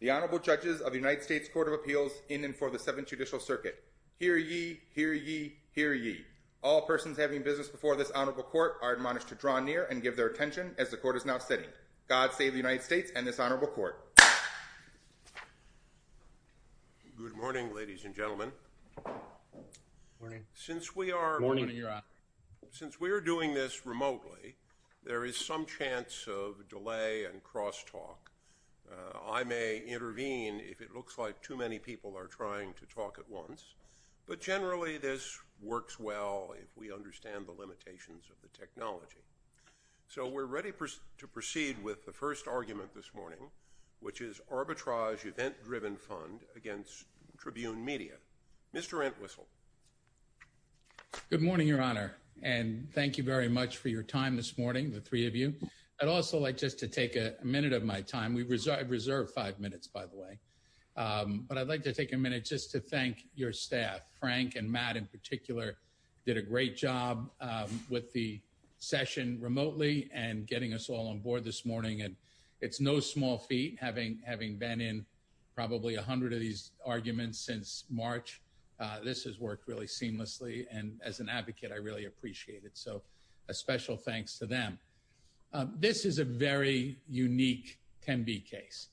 The Honorable Judges of the United States Court of Appeals in and for the Seventh Judicial Circuit. Hear ye, hear ye, hear ye. All persons having business before this honorable court are admonished to draw near and give their attention as the court is now sitting. God save the United States and this remotely, there is some chance of delay and crosstalk. I may intervene if it looks like too many people are trying to talk at once, but generally this works well if we understand the limitations of the technology. So we're ready to proceed with the first argument this morning, which is Arbitrage Event-Driven Fund against Tribune Media. Mr. Entwistle. Good morning, Your Honor, and thank you very much for your time this morning, the three of you. I'd also like just to take a minute of my time. We've reserved five minutes, by the way, but I'd like to take a minute just to thank your staff. Frank and Matt, in particular, did a great job with the session remotely and getting us all on board this morning, and it's no small feat having been in probably 100 of these arguments since March. This has worked really seamlessly, and as an attorney, I have to say a special thanks to them. This is a very unique Tenby case.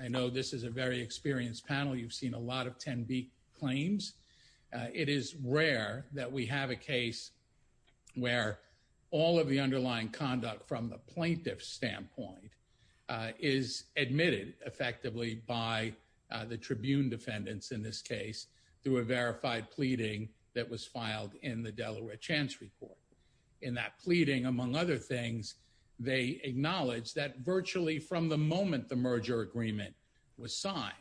I know this is a very experienced panel. You've seen a lot of Tenby claims. It is rare that we have a case where all of the underlying conduct from the plaintiff's standpoint is admitted effectively by the Tribune defendants in this case through a verified pleading that was filed in the chance report. In that pleading, among other things, they acknowledged that virtually from the moment the merger agreement was signed,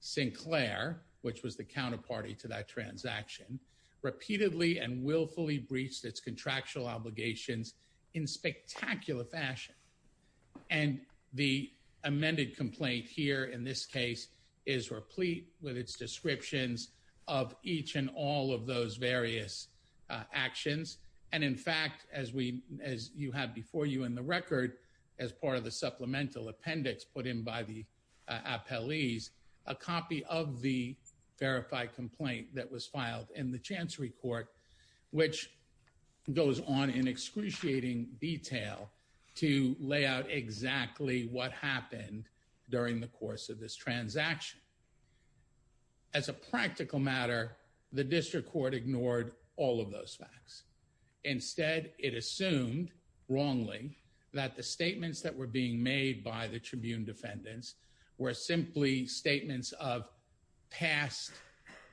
Sinclair, which was the counterparty to that transaction, repeatedly and willfully breached its contractual obligations in spectacular fashion. And the amended complaint here in this case is replete with its descriptions of each and all of those various actions. And in fact, as you have before you in the record, as part of the supplemental appendix put in by the appellees, a copy of the verified complaint that was filed in the chancery court, which goes on in excruciating detail to lay out exactly what happened during the course of this merger transaction ignored all of those facts. Instead, it assumed wrongly that the statements that were being made by the Tribune defendants were simply statements of past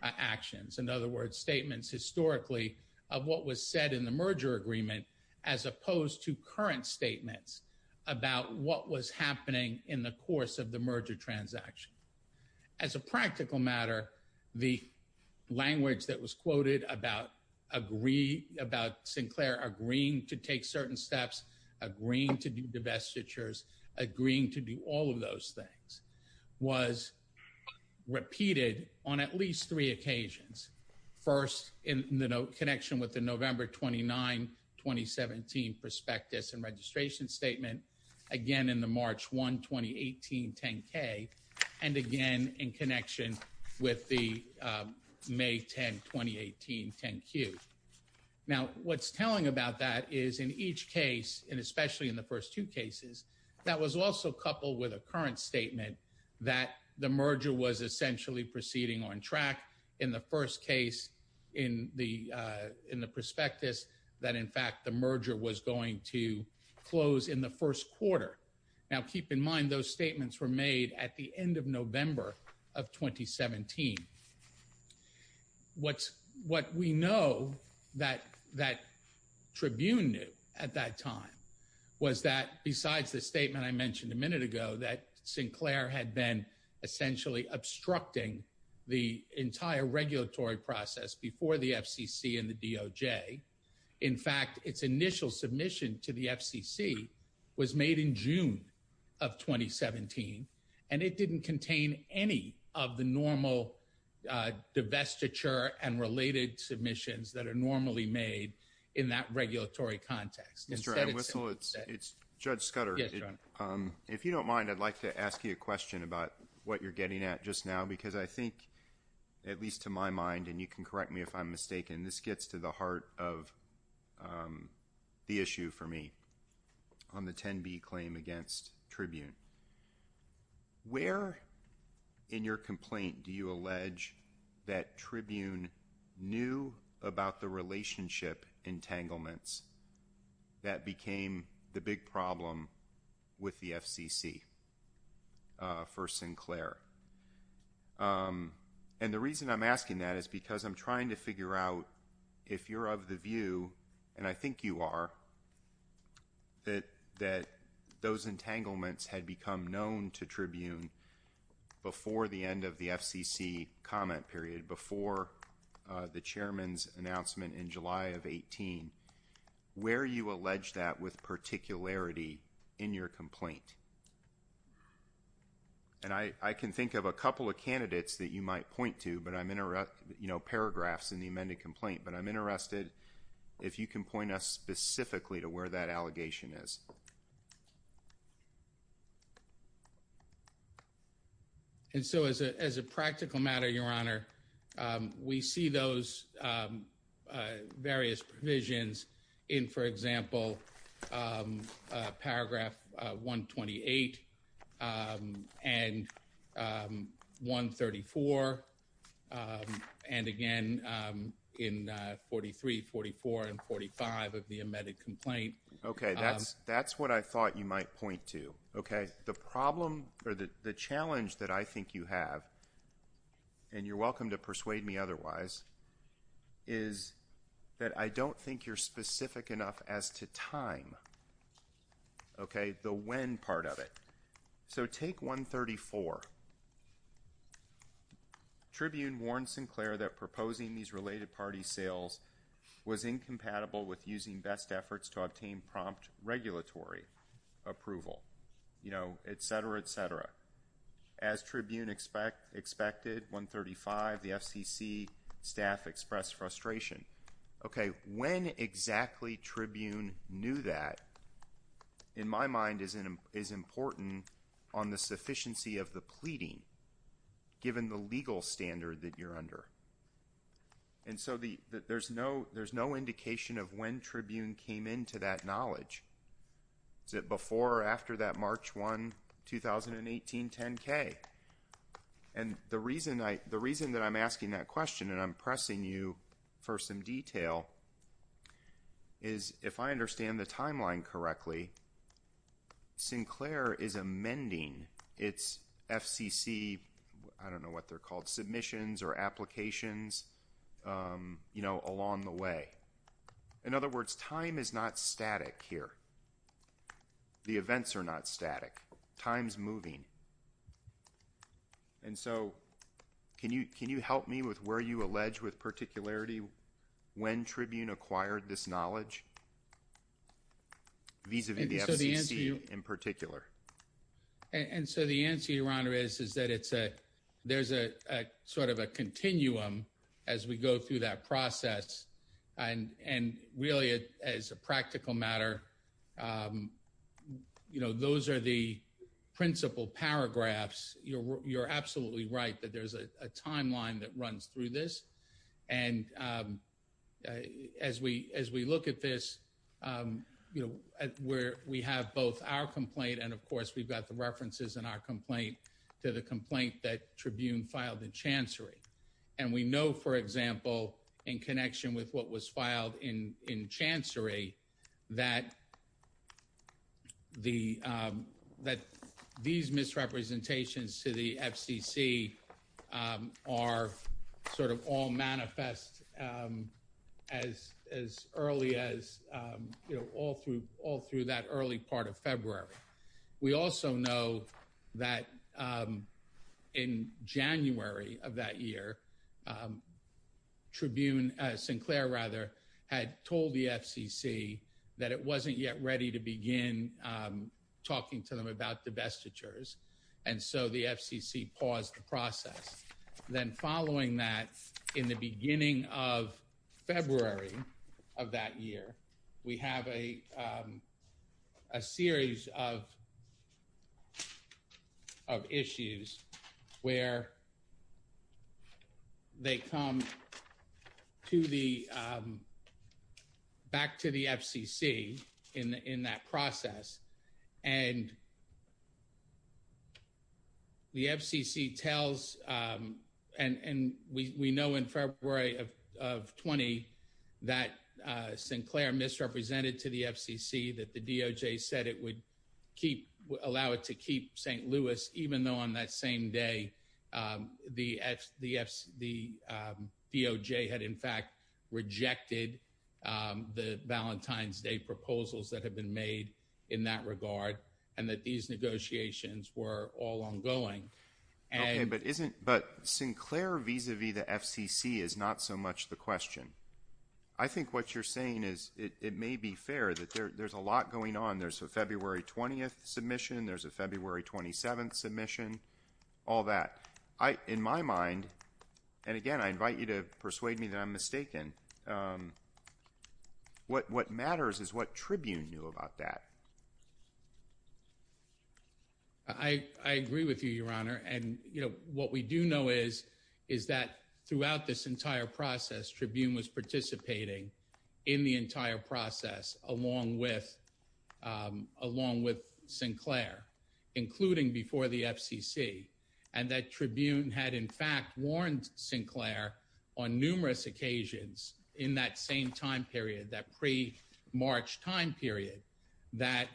actions. In other words, statements historically of what was said in the merger agreement as opposed to current statements about what was happening in the course of the merger transaction. As a practical matter, the language that was quoted about Sinclair agreeing to take certain steps, agreeing to do divestitures, agreeing to do all of those things, was repeated on at least three occasions. First, in the connection with the November 29, 2017 prospectus and registration statement, again in the with the May 10, 2018 10Q. Now, what's telling about that is in each case, and especially in the first two cases, that was also coupled with a current statement that the merger was essentially proceeding on track. In the first case, in the prospectus, that in fact the merger was going to close in the first quarter. Now, keep in mind those statements were made at the end of 2017. What we know that Tribune knew at that time was that, besides the statement I mentioned a minute ago, that Sinclair had been essentially obstructing the entire regulatory process before the FCC and the DOJ. In fact, its initial submission to the FCC was made in June of 2017, and it didn't contain any of the normal divestiture and related submissions that are normally made in that regulatory context. Judge Scudder, if you don't mind, I'd like to ask you a question about what you're getting at just now, because I think, at least to my mind, and you can correct me if I'm mistaken, this gets to the heart of the issue for me on the 10B claim against Tribune. Where in your complaint do you allege that Tribune knew about the relationship entanglements that became the big problem with the FCC for Sinclair? And the reason I'm asking that is because I'm that those entanglements had become known to Tribune before the end of the FCC comment period, before the Chairman's announcement in July of 2018. Where you allege that with particularity in your complaint? And I can think of a couple of candidates that you might point to, but I'm interested, you know, paragraphs in the amended complaint, but I'm interested if you can point us specifically to where that allegation is. And so as a practical matter, Your Honor, we see those various provisions in, for 43, 44, and 45 of the amended complaint. Okay, that's what I thought you might point to. Okay, the problem or the challenge that I think you have, and you're welcome to persuade me otherwise, is that I don't think you're specific enough as to time. Okay, the when part of it. So take 134. Tribune warned Sinclair that proposing these related party sales was incompatible with using best efforts to obtain prompt regulatory approval. You know, etc, etc. As Tribune expected 135, the FCC staff expressed frustration. Okay, when exactly Tribune knew that, in my mind, is important on the sufficiency of the And so there's no indication of when Tribune came into that knowledge. Is it before or after that March 1, 2018 10-K? And the reason that I'm asking that question, and I'm pressing you for some detail, is if I understand the timeline correctly, Sinclair is amending its FCC, I don't you know, along the way. In other words, time is not static here. The events are not static. Time's moving. And so can you can you help me with where you allege with particularity when Tribune acquired this knowledge vis-a-vis the FCC in particular? And so the answer, Your Honor, is is that it's a there's a sort of a as we go through that process and and really, as a practical matter, um, you know, those are the principal paragraphs. You're absolutely right that there's a timeline that runs through this. And, um, as we as we look at this, um, you know, where we have both our complaint and, of course, we've got the references in our complaint to the complaint that Tribune filed in Chancery. And we know, for example, in connection with what was filed in in Chancery that the that these misrepresentations to the FCC, um, are sort of all manifest, um, as as early as, um, you know, all through all through that early part of February. We also know that, um, in January of that year, um, Tribune Sinclair rather had told the FCC that it wasn't yet ready to begin, um, talking to them about divestitures. And so the FCC paused the process. Then following that, in the beginning of February of that year, we have a, um, a series of of issues where they come to the, um, back to the FCC in in that process. And the FCC tells, um and and we we know in February of 20 that Sinclair misrepresented to the FCC that the D O. J. Said it would keep allow it to keep ST Louis, even though on that same day, um, the F the F. The, um, D O. J. Had, in fact, rejected, um, the Valentine's Day proposals that have been made in that regard, and that these negotiations were all ongoing. But isn't but Sinclair vis a vis the FCC is not so much the question. I think what you're saying is it may be fair that there's a lot going on. There's a February 20th submission. There's a February 27th submission. All that in my mind. And again, I invite you to persuade me that I'm mistaken. Um, what? What matters is what Tribune knew about that. I agree with you, Your Honor. And, you know, what we do know is is that throughout this entire process, Tribune was participating in the entire process along with, um, along with Sinclair, including before the FCC. And that Tribune had, in fact, warned Sinclair on numerous occasions in that same time period that pre March time period that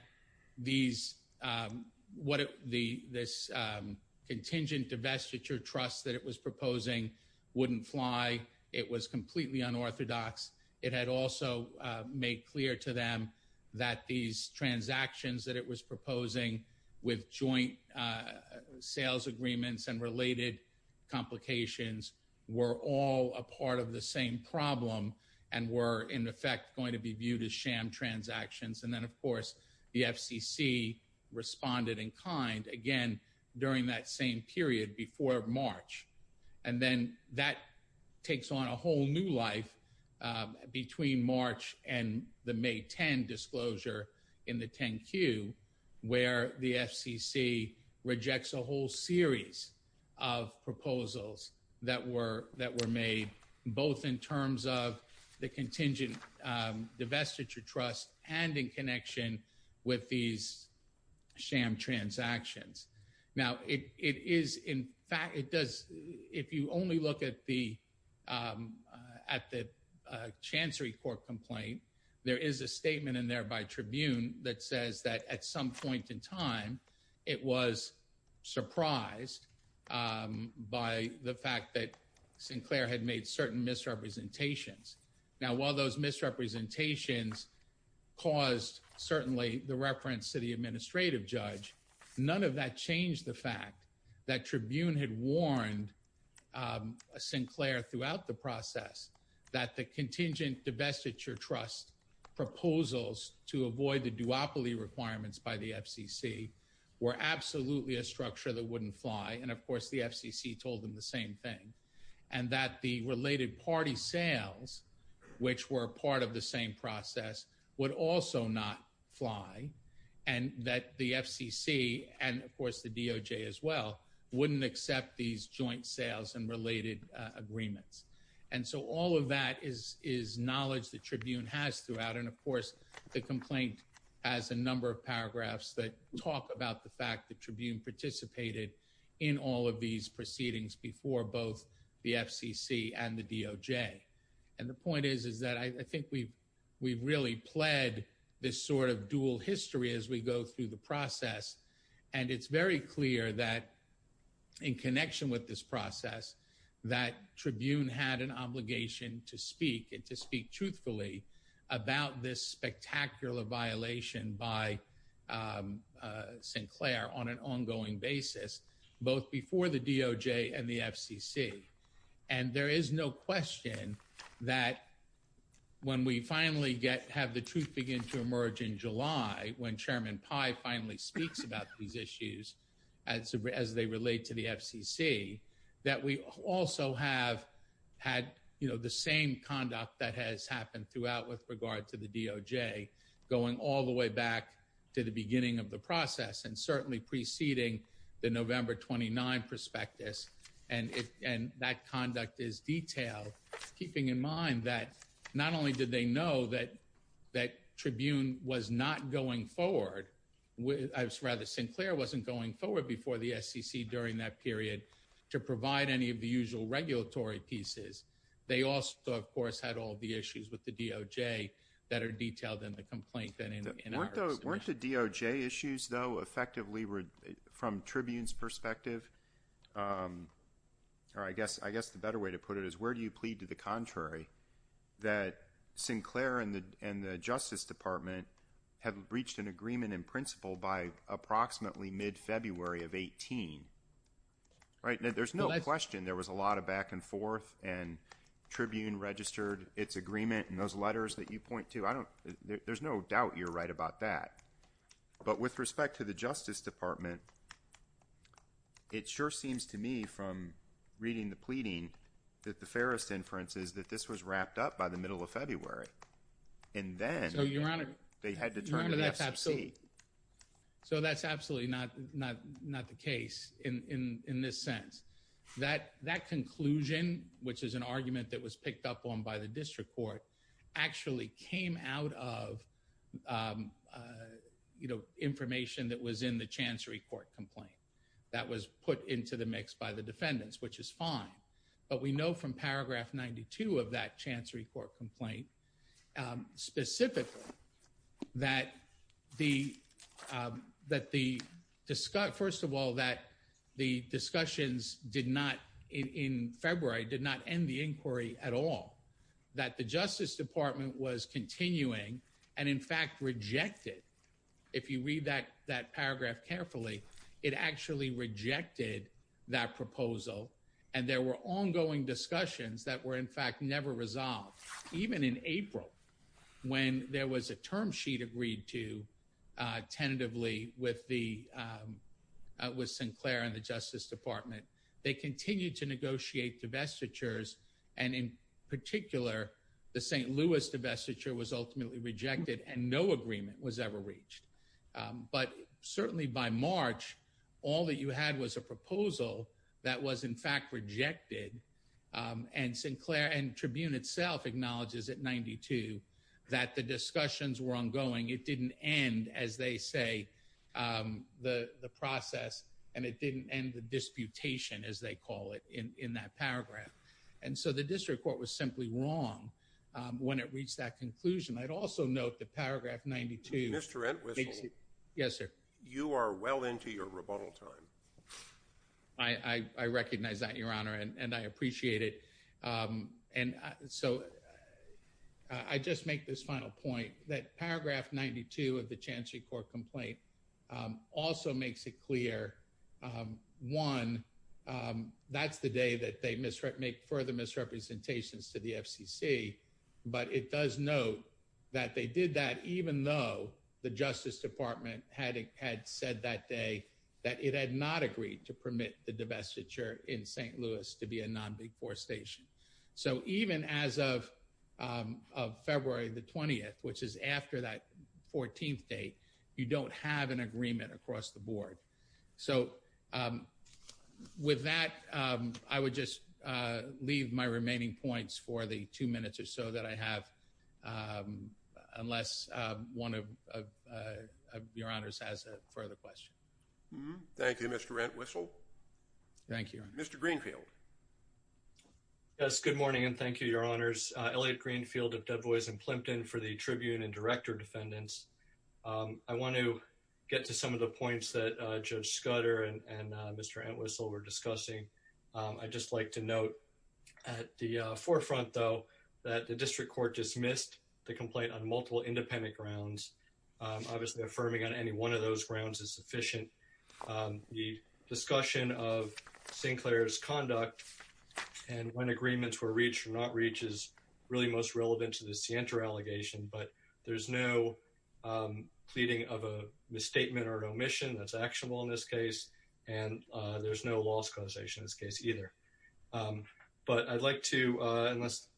these, um, what the this, um, contingent divestiture trust that it was proposing wouldn't fly. It was completely unorthodox. It had also made clear to them that these transactions that it was proposing with joint, uh, sales agreements and related complications were all a part of the same problem and were, in effect, going to be viewed as sham transactions. And then, of course, the FCC responded in kind again during that same period before March. And then that takes on a whole new life between March and the May 10 disclosure in the 10 Q, where the FCC rejects a whole series of proposals that were that were made both in terms of the contingent divestiture trust and in connection with these sham transactions. Now it is. In fact, it does. If you only look at the, um, at the chancery court complaint, there is a statement in there by Tribune that says that at some point in time, it was surprised by the fact that Sinclair had made certain misrepresentations. Now, while those misrepresentations caused certainly the reference to the administrative judge, none of that changed the fact that Tribune had warned, um, Sinclair throughout the process that the contingent divestiture trust proposals to avoid the duopoly requirements by the FCC were absolutely a structure that wouldn't fly. And, of course, the FCC told them the same thing and that the related party sales, which were part of the same process, would also not fly and that the FCC and, of course, the D O J as well wouldn't accept these joint sales and related agreements. And so all of that is is knowledge. The complaint has a number of paragraphs that talk about the fact that Tribune participated in all of these proceedings before both the FCC and the D O J. And the point is, is that I think we we've really pled this sort of dual history as we go through the process. And it's very clear that in connection with this process that Tribune had an obligation to speak and to speak truthfully about this spectacular violation by, um, Sinclair on an ongoing basis, both before the D O J and the FCC. And there is no question that when we finally get have the truth begin to emerge in July, when Chairman Pi finally speaks about these issues as as they relate to the FCC that we also have had, you know, the same conduct that has happened throughout with regard to the D O J going all the way back to the beginning of the process and certainly preceding the November 29 prospectus. And and that conduct is detailed, keeping in mind that not only did they know that that Tribune was not going forward with rather Sinclair wasn't going forward before the SEC during that period to provide any of the usual regulatory pieces. They also, of course, had all the issues with the D O J that are detailed in the complaint than in weren't the D O J issues, though, effectively were from Tribune's perspective. Um, or I guess I guess the better way to put it is where do you plead to the contrary that Sinclair and the and the Justice Department have reached an agreement in principle by approximately mid February of 18? Right now, there's no question there was a lot of back and forth and Tribune registered its agreement in those letters that you point to. I don't there's no doubt you're right about that. But with respect to the Justice Department, it sure seems to me from reading the pleading that the fairest inference is that this was wrapped up by the middle of February. And then they had to turn an FFC. So that's absolutely not not not the case. In in this sense, that that conclusion, which is an argument that was picked up on by the district court, actually came out of, um uh, you know, information that was in the chancery court complaint that was put into the mix by the defendants, which is fine. But we know from paragraph 92 of that chancery court complaint specifically that the that the Scott, first of all, that the discussions did not in February did not end the inquiry at all that the Justice Department was continuing and in fact rejected. If you read that that paragraph carefully, it actually rejected that proposal. And there were ongoing discussions that were, in fact, never resolved. Even in April, when there was a term sheet agreed to, uh, tentatively with the, um, with Sinclair and the Justice Department, they continue to negotiate divestitures. And in particular, the ST Louis divestiture was ultimately rejected, and no agreement was ever reached. But certainly by March, all that you had was a proposal that was, in fact, rejected. Um, and Sinclair and Tribune itself acknowledges at 92 that the discussions were ongoing. It didn't end, as they say, um, the process, and it didn't end the disputation, as they call it in in that paragraph. And so the district court was simply wrong when it reached that conclusion. I'd also note the paragraph 92. Yes, sir. You are well into your rebuttal time. I recognize that, Your Honor, and I appreciate it. Um, and so I just make this final point that paragraph 92 of the chancery court complaint also makes it clear. Um, one, um, that's the day that they misrep make further misrepresentations to the FCC. But it does note that they did that, even though the Justice Department had had said that day that it had not agreed to church in ST Louis to be a non before station. So even as of, um, of February the 20th, which is after that 14th date, you don't have an agreement across the board. So, um, with that, I would just leave my remaining points for the two minutes or so that I have. Um, unless one of your honors has a further question. Thank you, Mr Rent. Whistle. Thank you, Mr Greenfield. Yes. Good morning. And thank you, Your Honors. Elliott Greenfield of Dubois and Plimpton for the Tribune and director defendants. Um, I want to get to some of the points that Judge Scudder and Mr Ant whistle were discussing. I just like to note at the forefront, though, that the district court dismissed the complaint on multiple independent grounds. Obviously, affirming on any one of those grounds is sufficient. Um, the discussion of Sinclair's conduct and when agreements were reached or not reaches really most relevant to the center allegation. But there's no, um, pleading of a misstatement or omission that's actionable in this case, and there's no loss causation this case either. Um, but I'd like to unless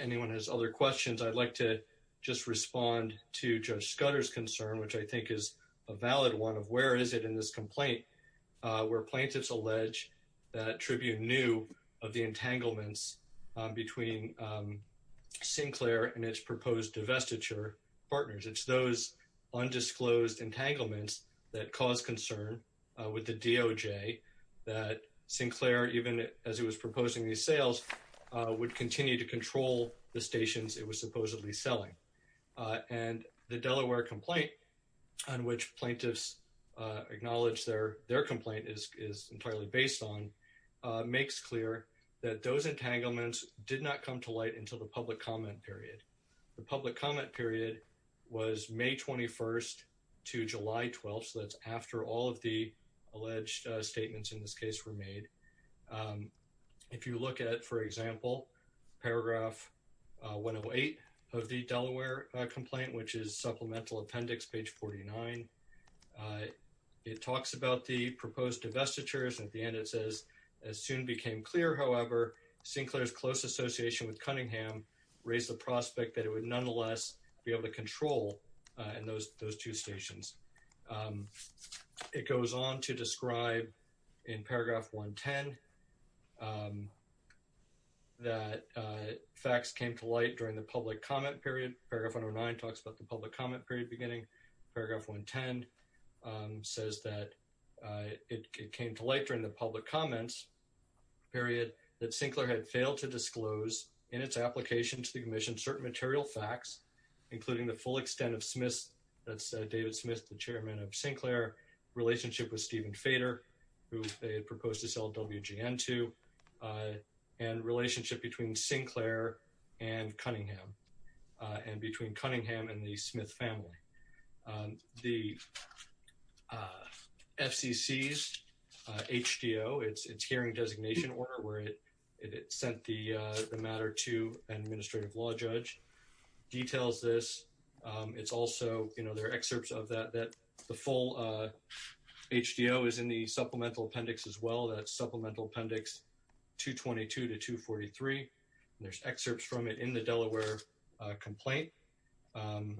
anyone has other questions, I'd like to just respond to Judge Scudder's concern, which I think is a valid one of where is it in this complaint where plaintiffs allege that Tribune knew of the entanglements between, um, Sinclair and its proposed divestiture partners. It's those undisclosed entanglements that caused concern with the D O. J. That Sinclair, even as he was proposing these sales, would continue to control the stations it was supposedly selling. Uh, and the Delaware complaint on which plaintiffs acknowledge their their complaint is entirely based on makes clear that those entanglements did not come to light until the public comment period. The public comment period was May 21st to July 12th. So that's after all of the alleged statements in this case were made. Um, if you look at, for example, paragraph 108 of the Delaware complaint, which is supplemental appendix page 49, uh, it talks about the proposed divestitures. At the end, it says as soon became clear, however, Sinclair's close association with Cunningham raised the prospect that it would nonetheless be able to control in those those two stations. Um, it goes on to 10. Um, that facts came to light during the public comment period. Paragraph 109 talks about the public comment period beginning. Paragraph 1 10 says that it came to light during the public comments period that Sinclair had failed to disclose in its application to the commission certain material facts, including the full extent of Smith. That's David Smith, the chairman of Sinclair relationship with Stephen Fader, who proposed to WGN to, uh, and relationship between Sinclair and Cunningham on between Cunningham and the Smith family. Um, the, uh, FCC's H. D. O. It's it's hearing designation order where it it sent the matter to an administrative law judge details this. Um, it's also, you know, there are excerpts of that that the full, uh, H. D. O. Is in the supplemental appendix as well. That's supplemental appendix 2 22 to 2 43. There's excerpts from it in the Delaware complaint. Um,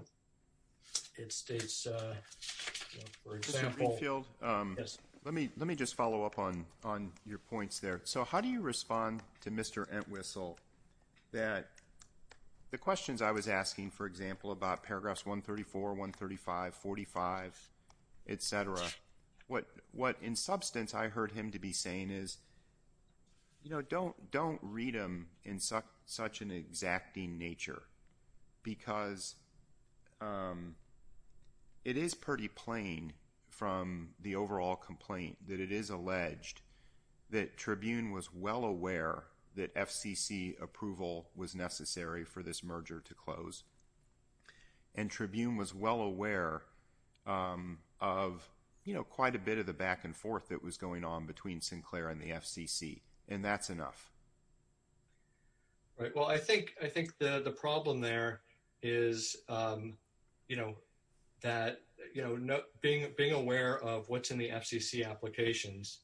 it's it's, uh, for example, field. Um, let me let me just follow up on on your points there. So how do you respond to Mr Entwistle that the questions I was asking, for example, about paragraphs 1 34 1 35 45 etcetera. What? What? In substance, I heard him to be saying is, you know, don't don't read him in such such an exacting nature because, um, it is pretty plain from the overall complaint that it is alleged that Tribune was well aware that FCC approval was necessary for this merger to close, and Tribune was well aware, um, of, you know, quite a bit of the back and forth that was going on between Sinclair and the FCC. And that's enough. Right. Well, I think I think the problem there is, um, you know, that, you know, being being aware of what's in the FCC applications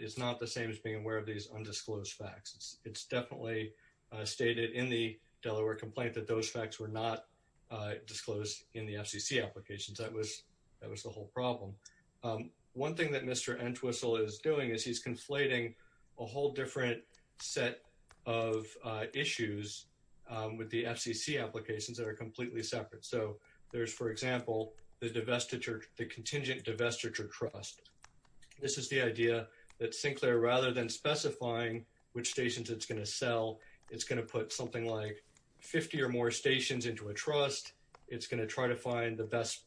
is not the same as being aware of these undisclosed facts. It's definitely stated in the Delaware complaint that those facts were not disclosed in the FCC applications. That was that was the whole problem. Um, one thing that Mr Entwistle is doing is he's conflating a whole different set of issues with the FCC applications that are completely separate. So there's, for example, the divestiture, the contingent divestiture trust. This is the idea that Sinclair rather than specifying which stations it's going to sell, it's going to put something like 50 or more stations into a trust. It's going to try to find the best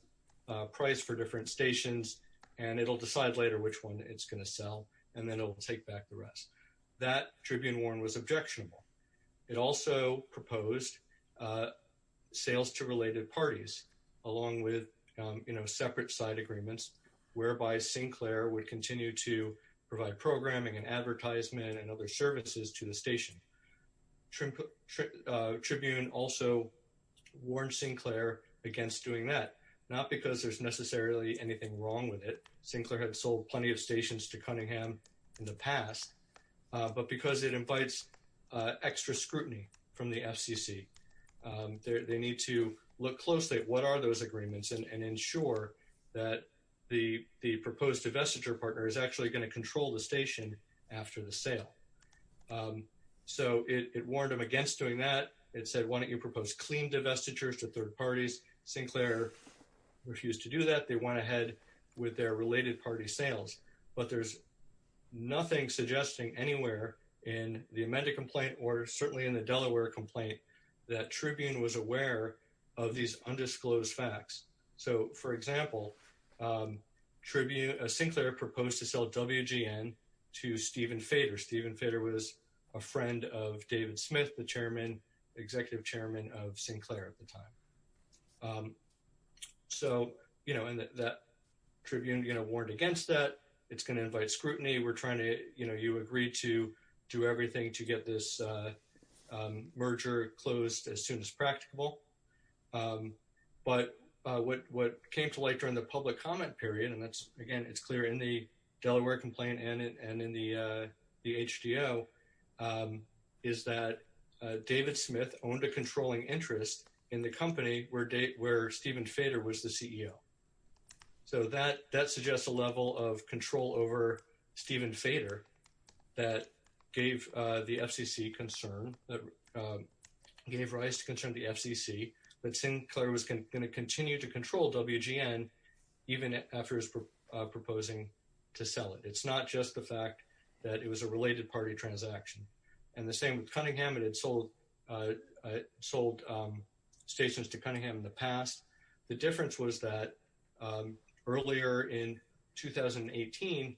price for different stations, and it'll decide later which one it's going to sell, and then it will take back the rest. That Tribune Warren was objectionable. It also proposed, uh, sales to related parties, along with, um, you know, separate side agreements whereby Sinclair would continue to provide programming and advertisement and other services to the station. Tribune also warned Sinclair against doing that, not because there's necessarily anything wrong with it. Sinclair had sold plenty of stations to Cunningham in the past, but because it invites extra scrutiny from the FCC. Um, they need to look closely at what are those agreements and ensure that the proposed divestiture partner is actually going to control the station after the sale. Um, so it warned him against doing that. It said, Why don't you propose clean divestiture to third parties? Sinclair refused to do that. They went ahead with their related party sales, but there's nothing suggesting anywhere in the amended complaint or certainly in the Delaware complaint that Tribune was aware of these undisclosed facts. So, for example, um, Tribune, uh, Sinclair proposed to sell WGN to Stephen Fader. Stephen Fader was a friend of David Smith, the chairman, executive chairman of Sinclair at the time. Um, so, you know, and that Tribune, you know, warned against that. It's going to invite scrutiny. We're trying to, you know, you agree to do everything to get this, uh, um, merger closed as practicable. Um, but, uh, what, what came to light during the public comment period, and that's, again, it's clear in the Delaware complaint and in the, uh, the HDL, um, is that, uh, David Smith owned a controlling interest in the company where date, where Stephen Fader was the CEO. So that, that suggests a level of control over Stephen Fader that gave the FCC concern, that, um, gave rise to concern the FCC, that Sinclair was going to continue to control WGN even after his, uh, proposing to sell it. It's not just the fact that it was a related party transaction. And the same with Cunningham, it had sold, uh, sold, um, stations to Cunningham in the past. The difference was that, um, earlier in 2018,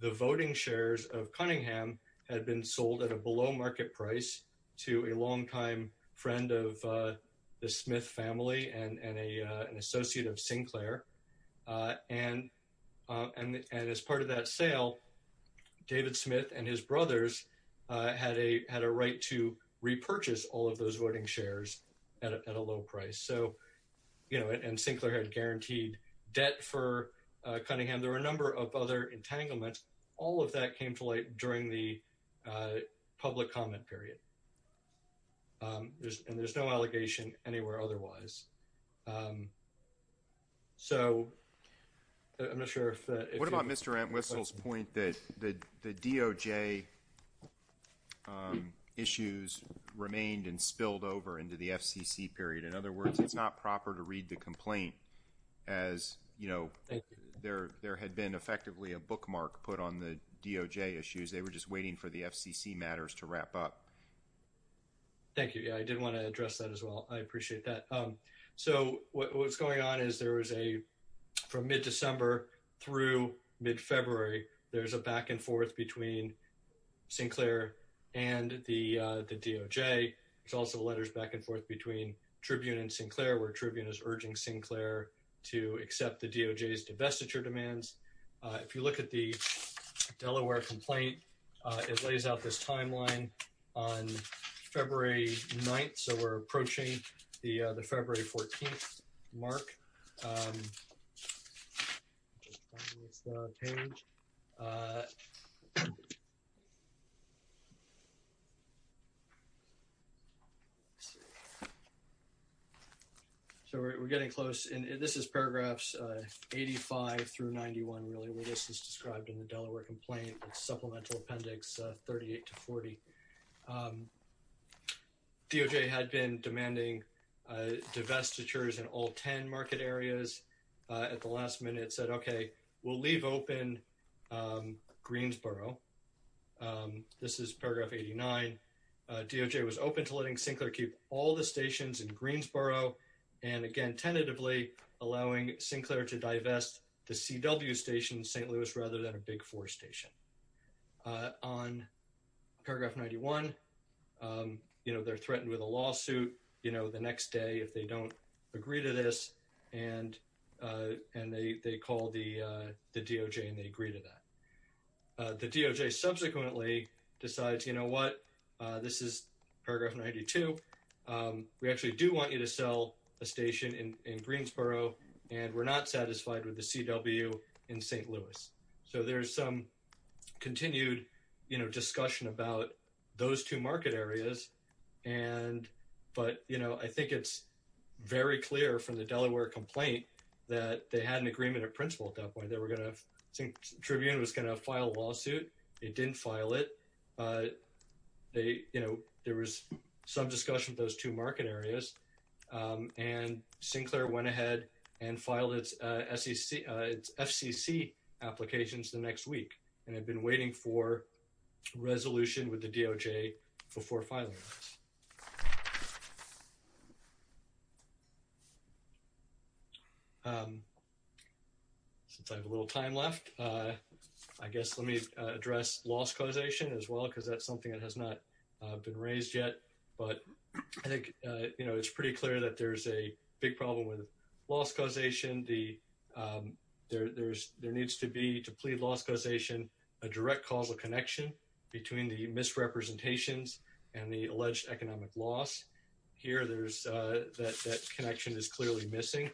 the voting shares of Cunningham had been sold at a below market price to a longtime friend of, uh, the Smith family and, and a, uh, an associate of Sinclair. Uh, and, uh, and, and as part of that sale, David Smith and his brothers, uh, had a, had a right to repurchase all of those voting shares at a, at a low price. So, you know, and Sinclair had guaranteed debt for, uh, Cunningham. There were a number of other entanglements. All of that came to light during the, uh, public comment period. Um, there's, and there's no allegation anywhere otherwise. Um, so I'm not sure if, uh, what about Mr. Antwistle's point that the, the DOJ, um, issues remained and spilled over into the FCC period. In other words, it's not proper to read the complaint as, you know, there, there had been effectively a bookmark put on the DOJ issues. They were just waiting for the FCC matters to wrap up. Thank you. Yeah, I did want to address that as well. I appreciate that. Um, so what's going on is there is a, from mid-December through mid-February, there's a back and forth between Sinclair and the, uh, the DOJ. There's also letters back and forth between Tribune and Sinclair where Tribune is to vest at your demands. Uh, if you look at the Delaware complaint, uh, it lays out this timeline on February 9th. So we're approaching the, uh, the February 14th mark. Um, just finding this page. Uh, so we're getting close and this is paragraphs, uh, 85 through 91, really where this is described in the Delaware complaint, supplemental appendix 38 to 40. Um, DOJ had been demanding, uh, divestitures in all 10 market areas, uh, at the last minute said, okay, we'll leave open, um, Greensboro. Um, this is paragraph 89. Uh, DOJ was open to letting Sinclair keep all the stations in Greensboro. And again, tentatively allowing Sinclair to divest the CW station in St. Louis rather than a big four station, uh, on paragraph 91. Um, you know, they're threatened with a lawsuit, you know, the next day, if they don't agree to this and, uh, and they, they call the, uh, the DOJ and they agree to that, uh, the DOJ subsequently decides, you know what, uh, this is paragraph 92. Um, we actually do want you to sell a station in Greensboro and we're not satisfied with the CW in St. Louis. So there's some continued, you know, discussion about those two market areas. And, but, you know, I think it's very clear from the Delaware complaint that they had an agreement of principle at that point, they were going to think Tribune was going to file a lawsuit. It didn't file it. Uh, they, you know, there was some discussion with those two market areas. Um, and Sinclair went ahead and filed its, uh, SEC, uh, FCC applications the next week. And I've been waiting for resolution with the DOJ before filing this. Um, since I have a little time left, uh, I guess let me, uh, address loss causation as well, because that's something that has not been raised yet, but I think, uh, you know, it's pretty clear that there's a big problem with loss causation. The, um, there, there's, there needs to be to plead loss causation, a direct causal connection between the misrepresentations and the alleged economic loss here. There's a, that, that connection is clearly missing.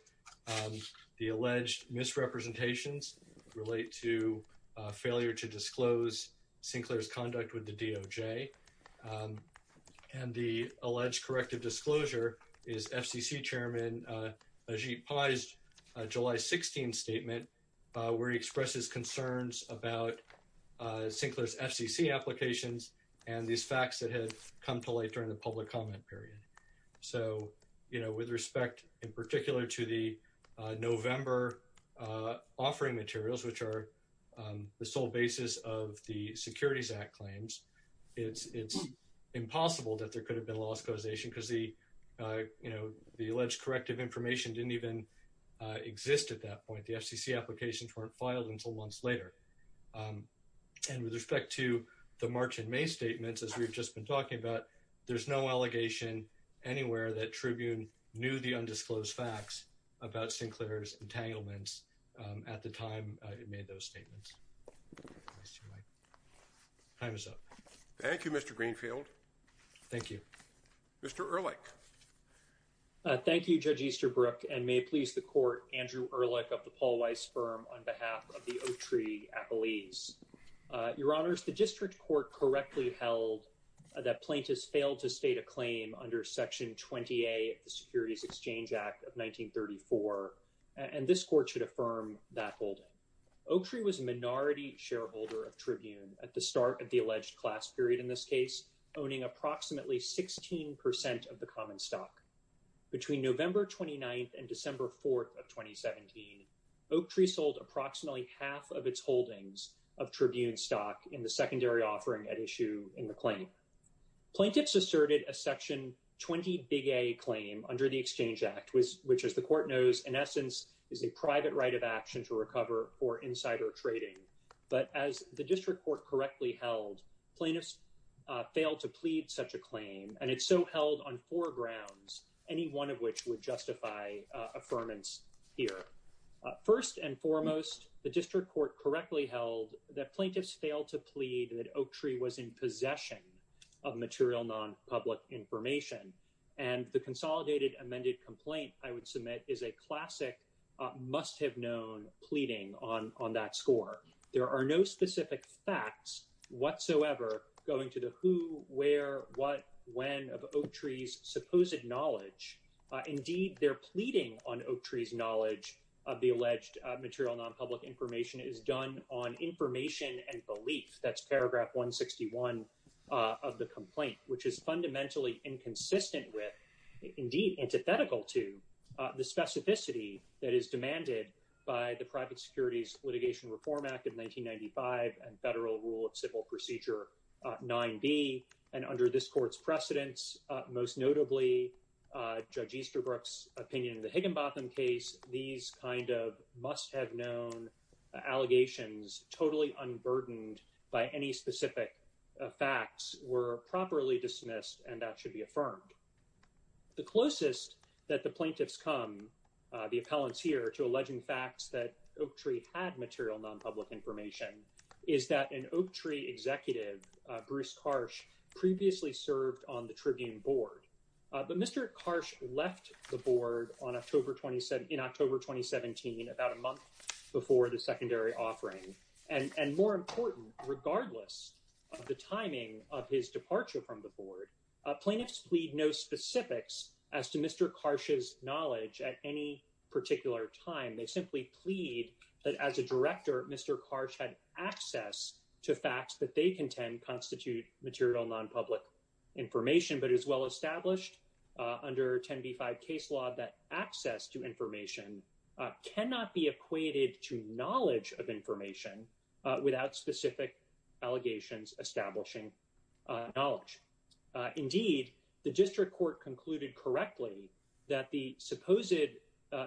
Um, the alleged misrepresentations relate to a failure to disclose Sinclair's conduct with the DOJ. Um, and the alleged corrective disclosure is FCC chairman, uh, uh, July 16 statement, uh, where he and these facts that had come to light during the public comment period. So, you know, with respect in particular to the, uh, November, uh, offering materials, which are, um, the sole basis of the securities act claims, it's, it's impossible that there could have been lost causation because the, uh, you know, the alleged corrective information didn't even, uh, exist at that point. The FCC applications weren't filed until months later. Um, and with respect to the March and May statements, as we've just been talking about, there's no allegation anywhere that tribune knew the undisclosed facts about Sinclair's entanglements. Um, at the time I had made those statements. Time is up. Thank you, Mr. Greenfield. Thank you, Mr. Ehrlich. Uh, thank you judge Easterbrook and may it please the court, Andrew Ehrlich of the Paul Weiss firm on behalf of the Oaktree appellees. Uh, your honors, the district court correctly held that plaintiffs failed to state a claim under section 20a of the securities exchange act of 1934. And this court should affirm that hold Oaktree was a minority shareholder of tribune at the start of the alleged class period. In this case, owning approximately 16% of the common stock between November 29th and December 4th of 2017, Oaktree sold approximately half of its holdings of tribune stock in the secondary offering at issue in the claim. Plaintiffs asserted a section 20 big a claim under the exchange act was, which is the court knows in essence is a private right of action to recover for insider trading. But as the district court correctly held plaintiffs failed to plead such a claim and it's so held on four grounds, any one of which would justify affirmance here. First and foremost, the district court correctly held that plaintiffs failed to plead that Oaktree was in possession of material non public information. And the consolidated amended complaint I would submit is a classic must have known pleading on on that score. There are no specific facts whatsoever going to the who, where, what, when of Oaktree's supposed knowledge. Indeed, they're pleading on Oaktree's knowledge of the alleged material non public information is done on information and belief. That's paragraph 161 of the complaint, which is fundamentally inconsistent with indeed antithetical to the specificity that is demanded by the private securities litigation reform act of 1995 and federal rule of civil procedure 9b. And under this court's precedents, most notably, Judge Easterbrook's opinion in the Higginbotham case, these kind of must have known allegations totally unburdened by any specific facts were properly dismissed and that should be affirmed. The closest that the plaintiffs come the appellants here to Oaktree had material non-public information is that an Oaktree executive, Bruce Karsh, previously served on the Tribune board. But Mr. Karsh left the board on October 27 in October 2017, about a month before the secondary offering. And more important, regardless of the timing of his departure from the board, plaintiffs plead no specifics as to Mr. Karsh's knowledge at any particular time. They simply plead that as a director, Mr. Karsh had access to facts that they contend constitute material non-public information, but as well established under 10b5 case law, that access to information cannot be equated to knowledge of information without specific allegations establishing knowledge. Indeed, the district court concluded correctly that the supposed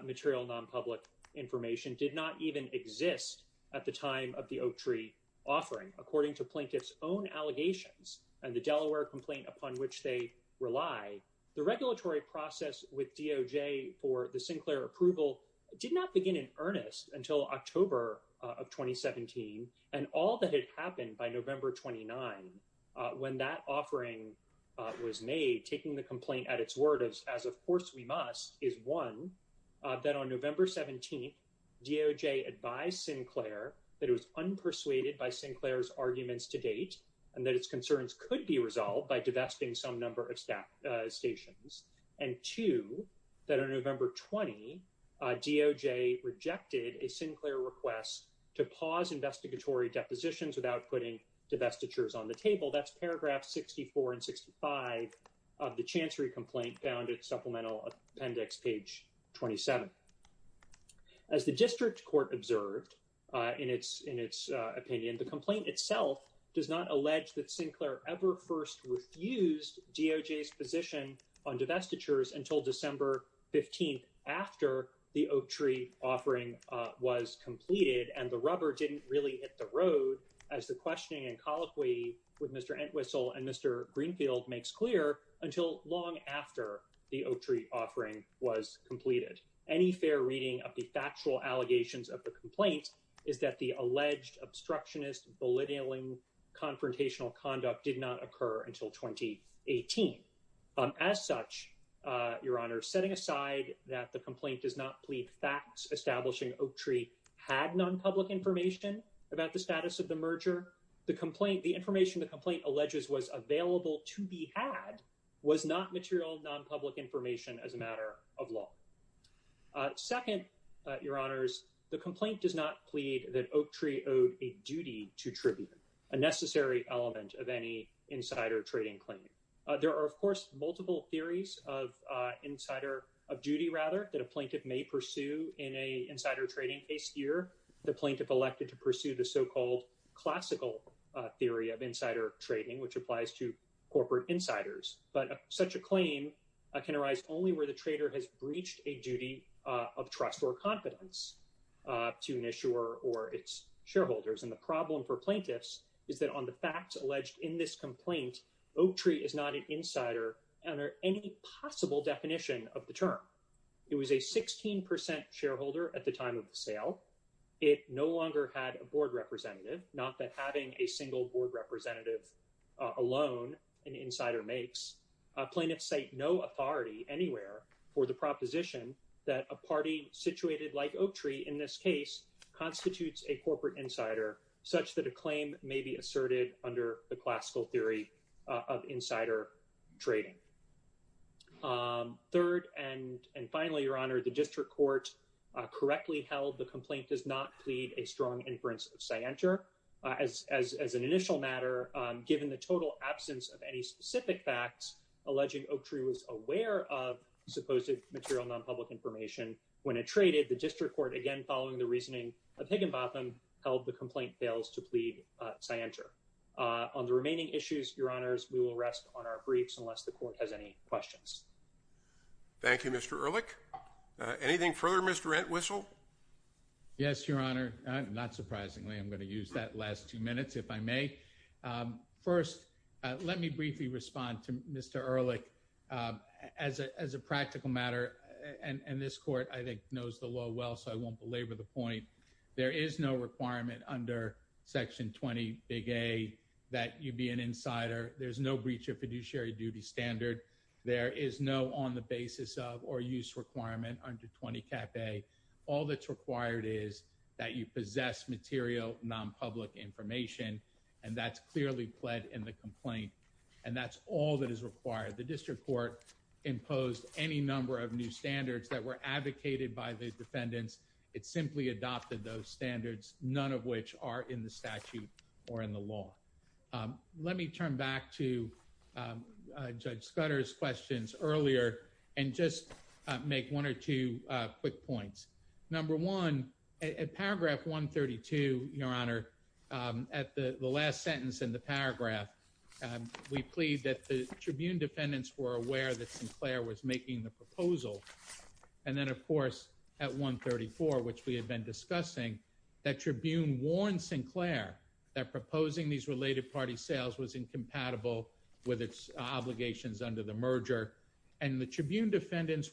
material non-public information did not even exist at the time of the Oaktree offering. According to plaintiffs own allegations and the Delaware complaint upon which they rely, the regulatory process with DOJ for the Sinclair approval did not begin in earnest until October of 2017 and all that had happened by November 29 when that offering was made, taking the is one, that on November 17, DOJ advised Sinclair that it was unpersuaded by Sinclair's arguments to date and that its concerns could be resolved by divesting some number of stat stations, and two, that on November 20, DOJ rejected a Sinclair request to pause investigatory depositions without putting divestitures on the table. That's paragraph 64 and 65 of the Chancery complaint found at Supplemental Appendix page 27. As the district court observed in its opinion, the complaint itself does not allege that Sinclair ever first refused DOJ's position on divestitures until December 15 after the Oaktree offering was completed and the rubber didn't really hit the road as the questioning and colloquy with Mr. Entwistle and Mr. Greenfield makes clear until long after the Oaktree offering was completed. Any fair reading of the factual allegations of the complaint is that the alleged obstructionist bullying confrontational conduct did not occur until 2018. As such, Your Honor, setting aside that the complaint does not plead facts establishing Oaktree had non-public information about the status of the merger, the complaint, the was not material non-public information as a matter of law. Second, Your Honors, the complaint does not plead that Oaktree owed a duty to tribute, a necessary element of any insider trading claim. There are of course multiple theories of insider, of duty rather, that a plaintiff may pursue in a insider trading case here. The plaintiff elected to pursue the so-called classical theory of insider trading which applies to corporate insiders but such a claim can arise only where the trader has breached a duty of trust or confidence to an issuer or its shareholders and the problem for plaintiffs is that on the facts alleged in this complaint, Oaktree is not an insider under any possible definition of the term. It was a 16% shareholder at the time of the sale. It no longer had a board representative, not that having a single board representative alone an insider makes. Plaintiffs cite no authority anywhere for the proposition that a party situated like Oaktree in this case constitutes a corporate insider such that a claim may be asserted under the classical theory of insider trading. Third and and finally, Your Honor, the complaint fails to plead a strong inference of scienter. As an initial matter, given the total absence of any specific facts, alleging Oaktree was aware of supposed material non-public information when it traded, the district court again following the reasoning of Higginbotham held the complaint fails to plead scienter. On the remaining issues, Your Honors, we will rest on our briefs unless the court has any questions. Thank you, Mr. Ehrlich. Anything further, Mr. Entwistle? Yes, Your Honor. Not surprisingly, I'm going to use that last two minutes, if I may. First, let me briefly respond to Mr. Ehrlich. As a practical matter, and this court I think knows the law well, so I won't belabor the point, there is no requirement under Section 20, Big A, that you be an insider. There's no breach of fiduciary duty standard. There is no on the basis of or use requirement under 20, Cap A. All that's required is that you possess material non-public information, and that's clearly pled in the complaint, and that's all that is required. The district court imposed any number of new standards that were advocated by the defendants. It simply adopted those standards, none of which are in the statute or in the law. Let me turn back to Judge Scudder's questions earlier and just make one or two quick points. Number one, at paragraph 132, Your Honor, at the last sentence in the paragraph, we plead that the Tribune defendants were aware that Sinclair was making the proposal, and then of course at 134, which we had been discussing, that the Tribune defendants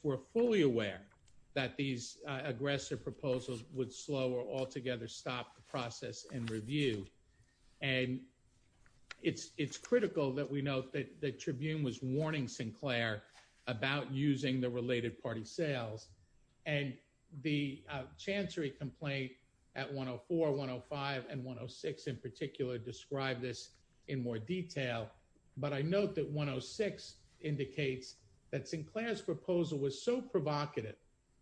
were fully aware that these aggressive proposals would slow or altogether stop the process and review, and it's critical that we note that the Tribune was warning Sinclair about using the related party sales, and the Chancery complaint at 104, 105, and 106 in particular describe this in more detail, but I note that 106 indicates that Sinclair's proposal was so provocative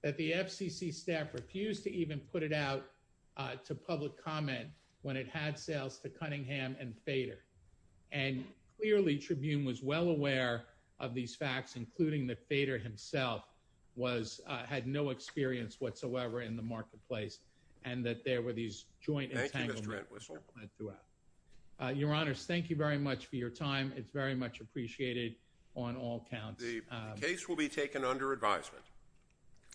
that the FCC staff refused to even put it out to public comment when it had sales to Cunningham and Fader, and clearly Tribune was well aware of these facts, including that Fader himself was, had no experience whatsoever in the marketplace, and that there were these joint entanglements. Your Honor, thank you very much for your time. It's very much appreciated on all counts. The case will be taken under advisement.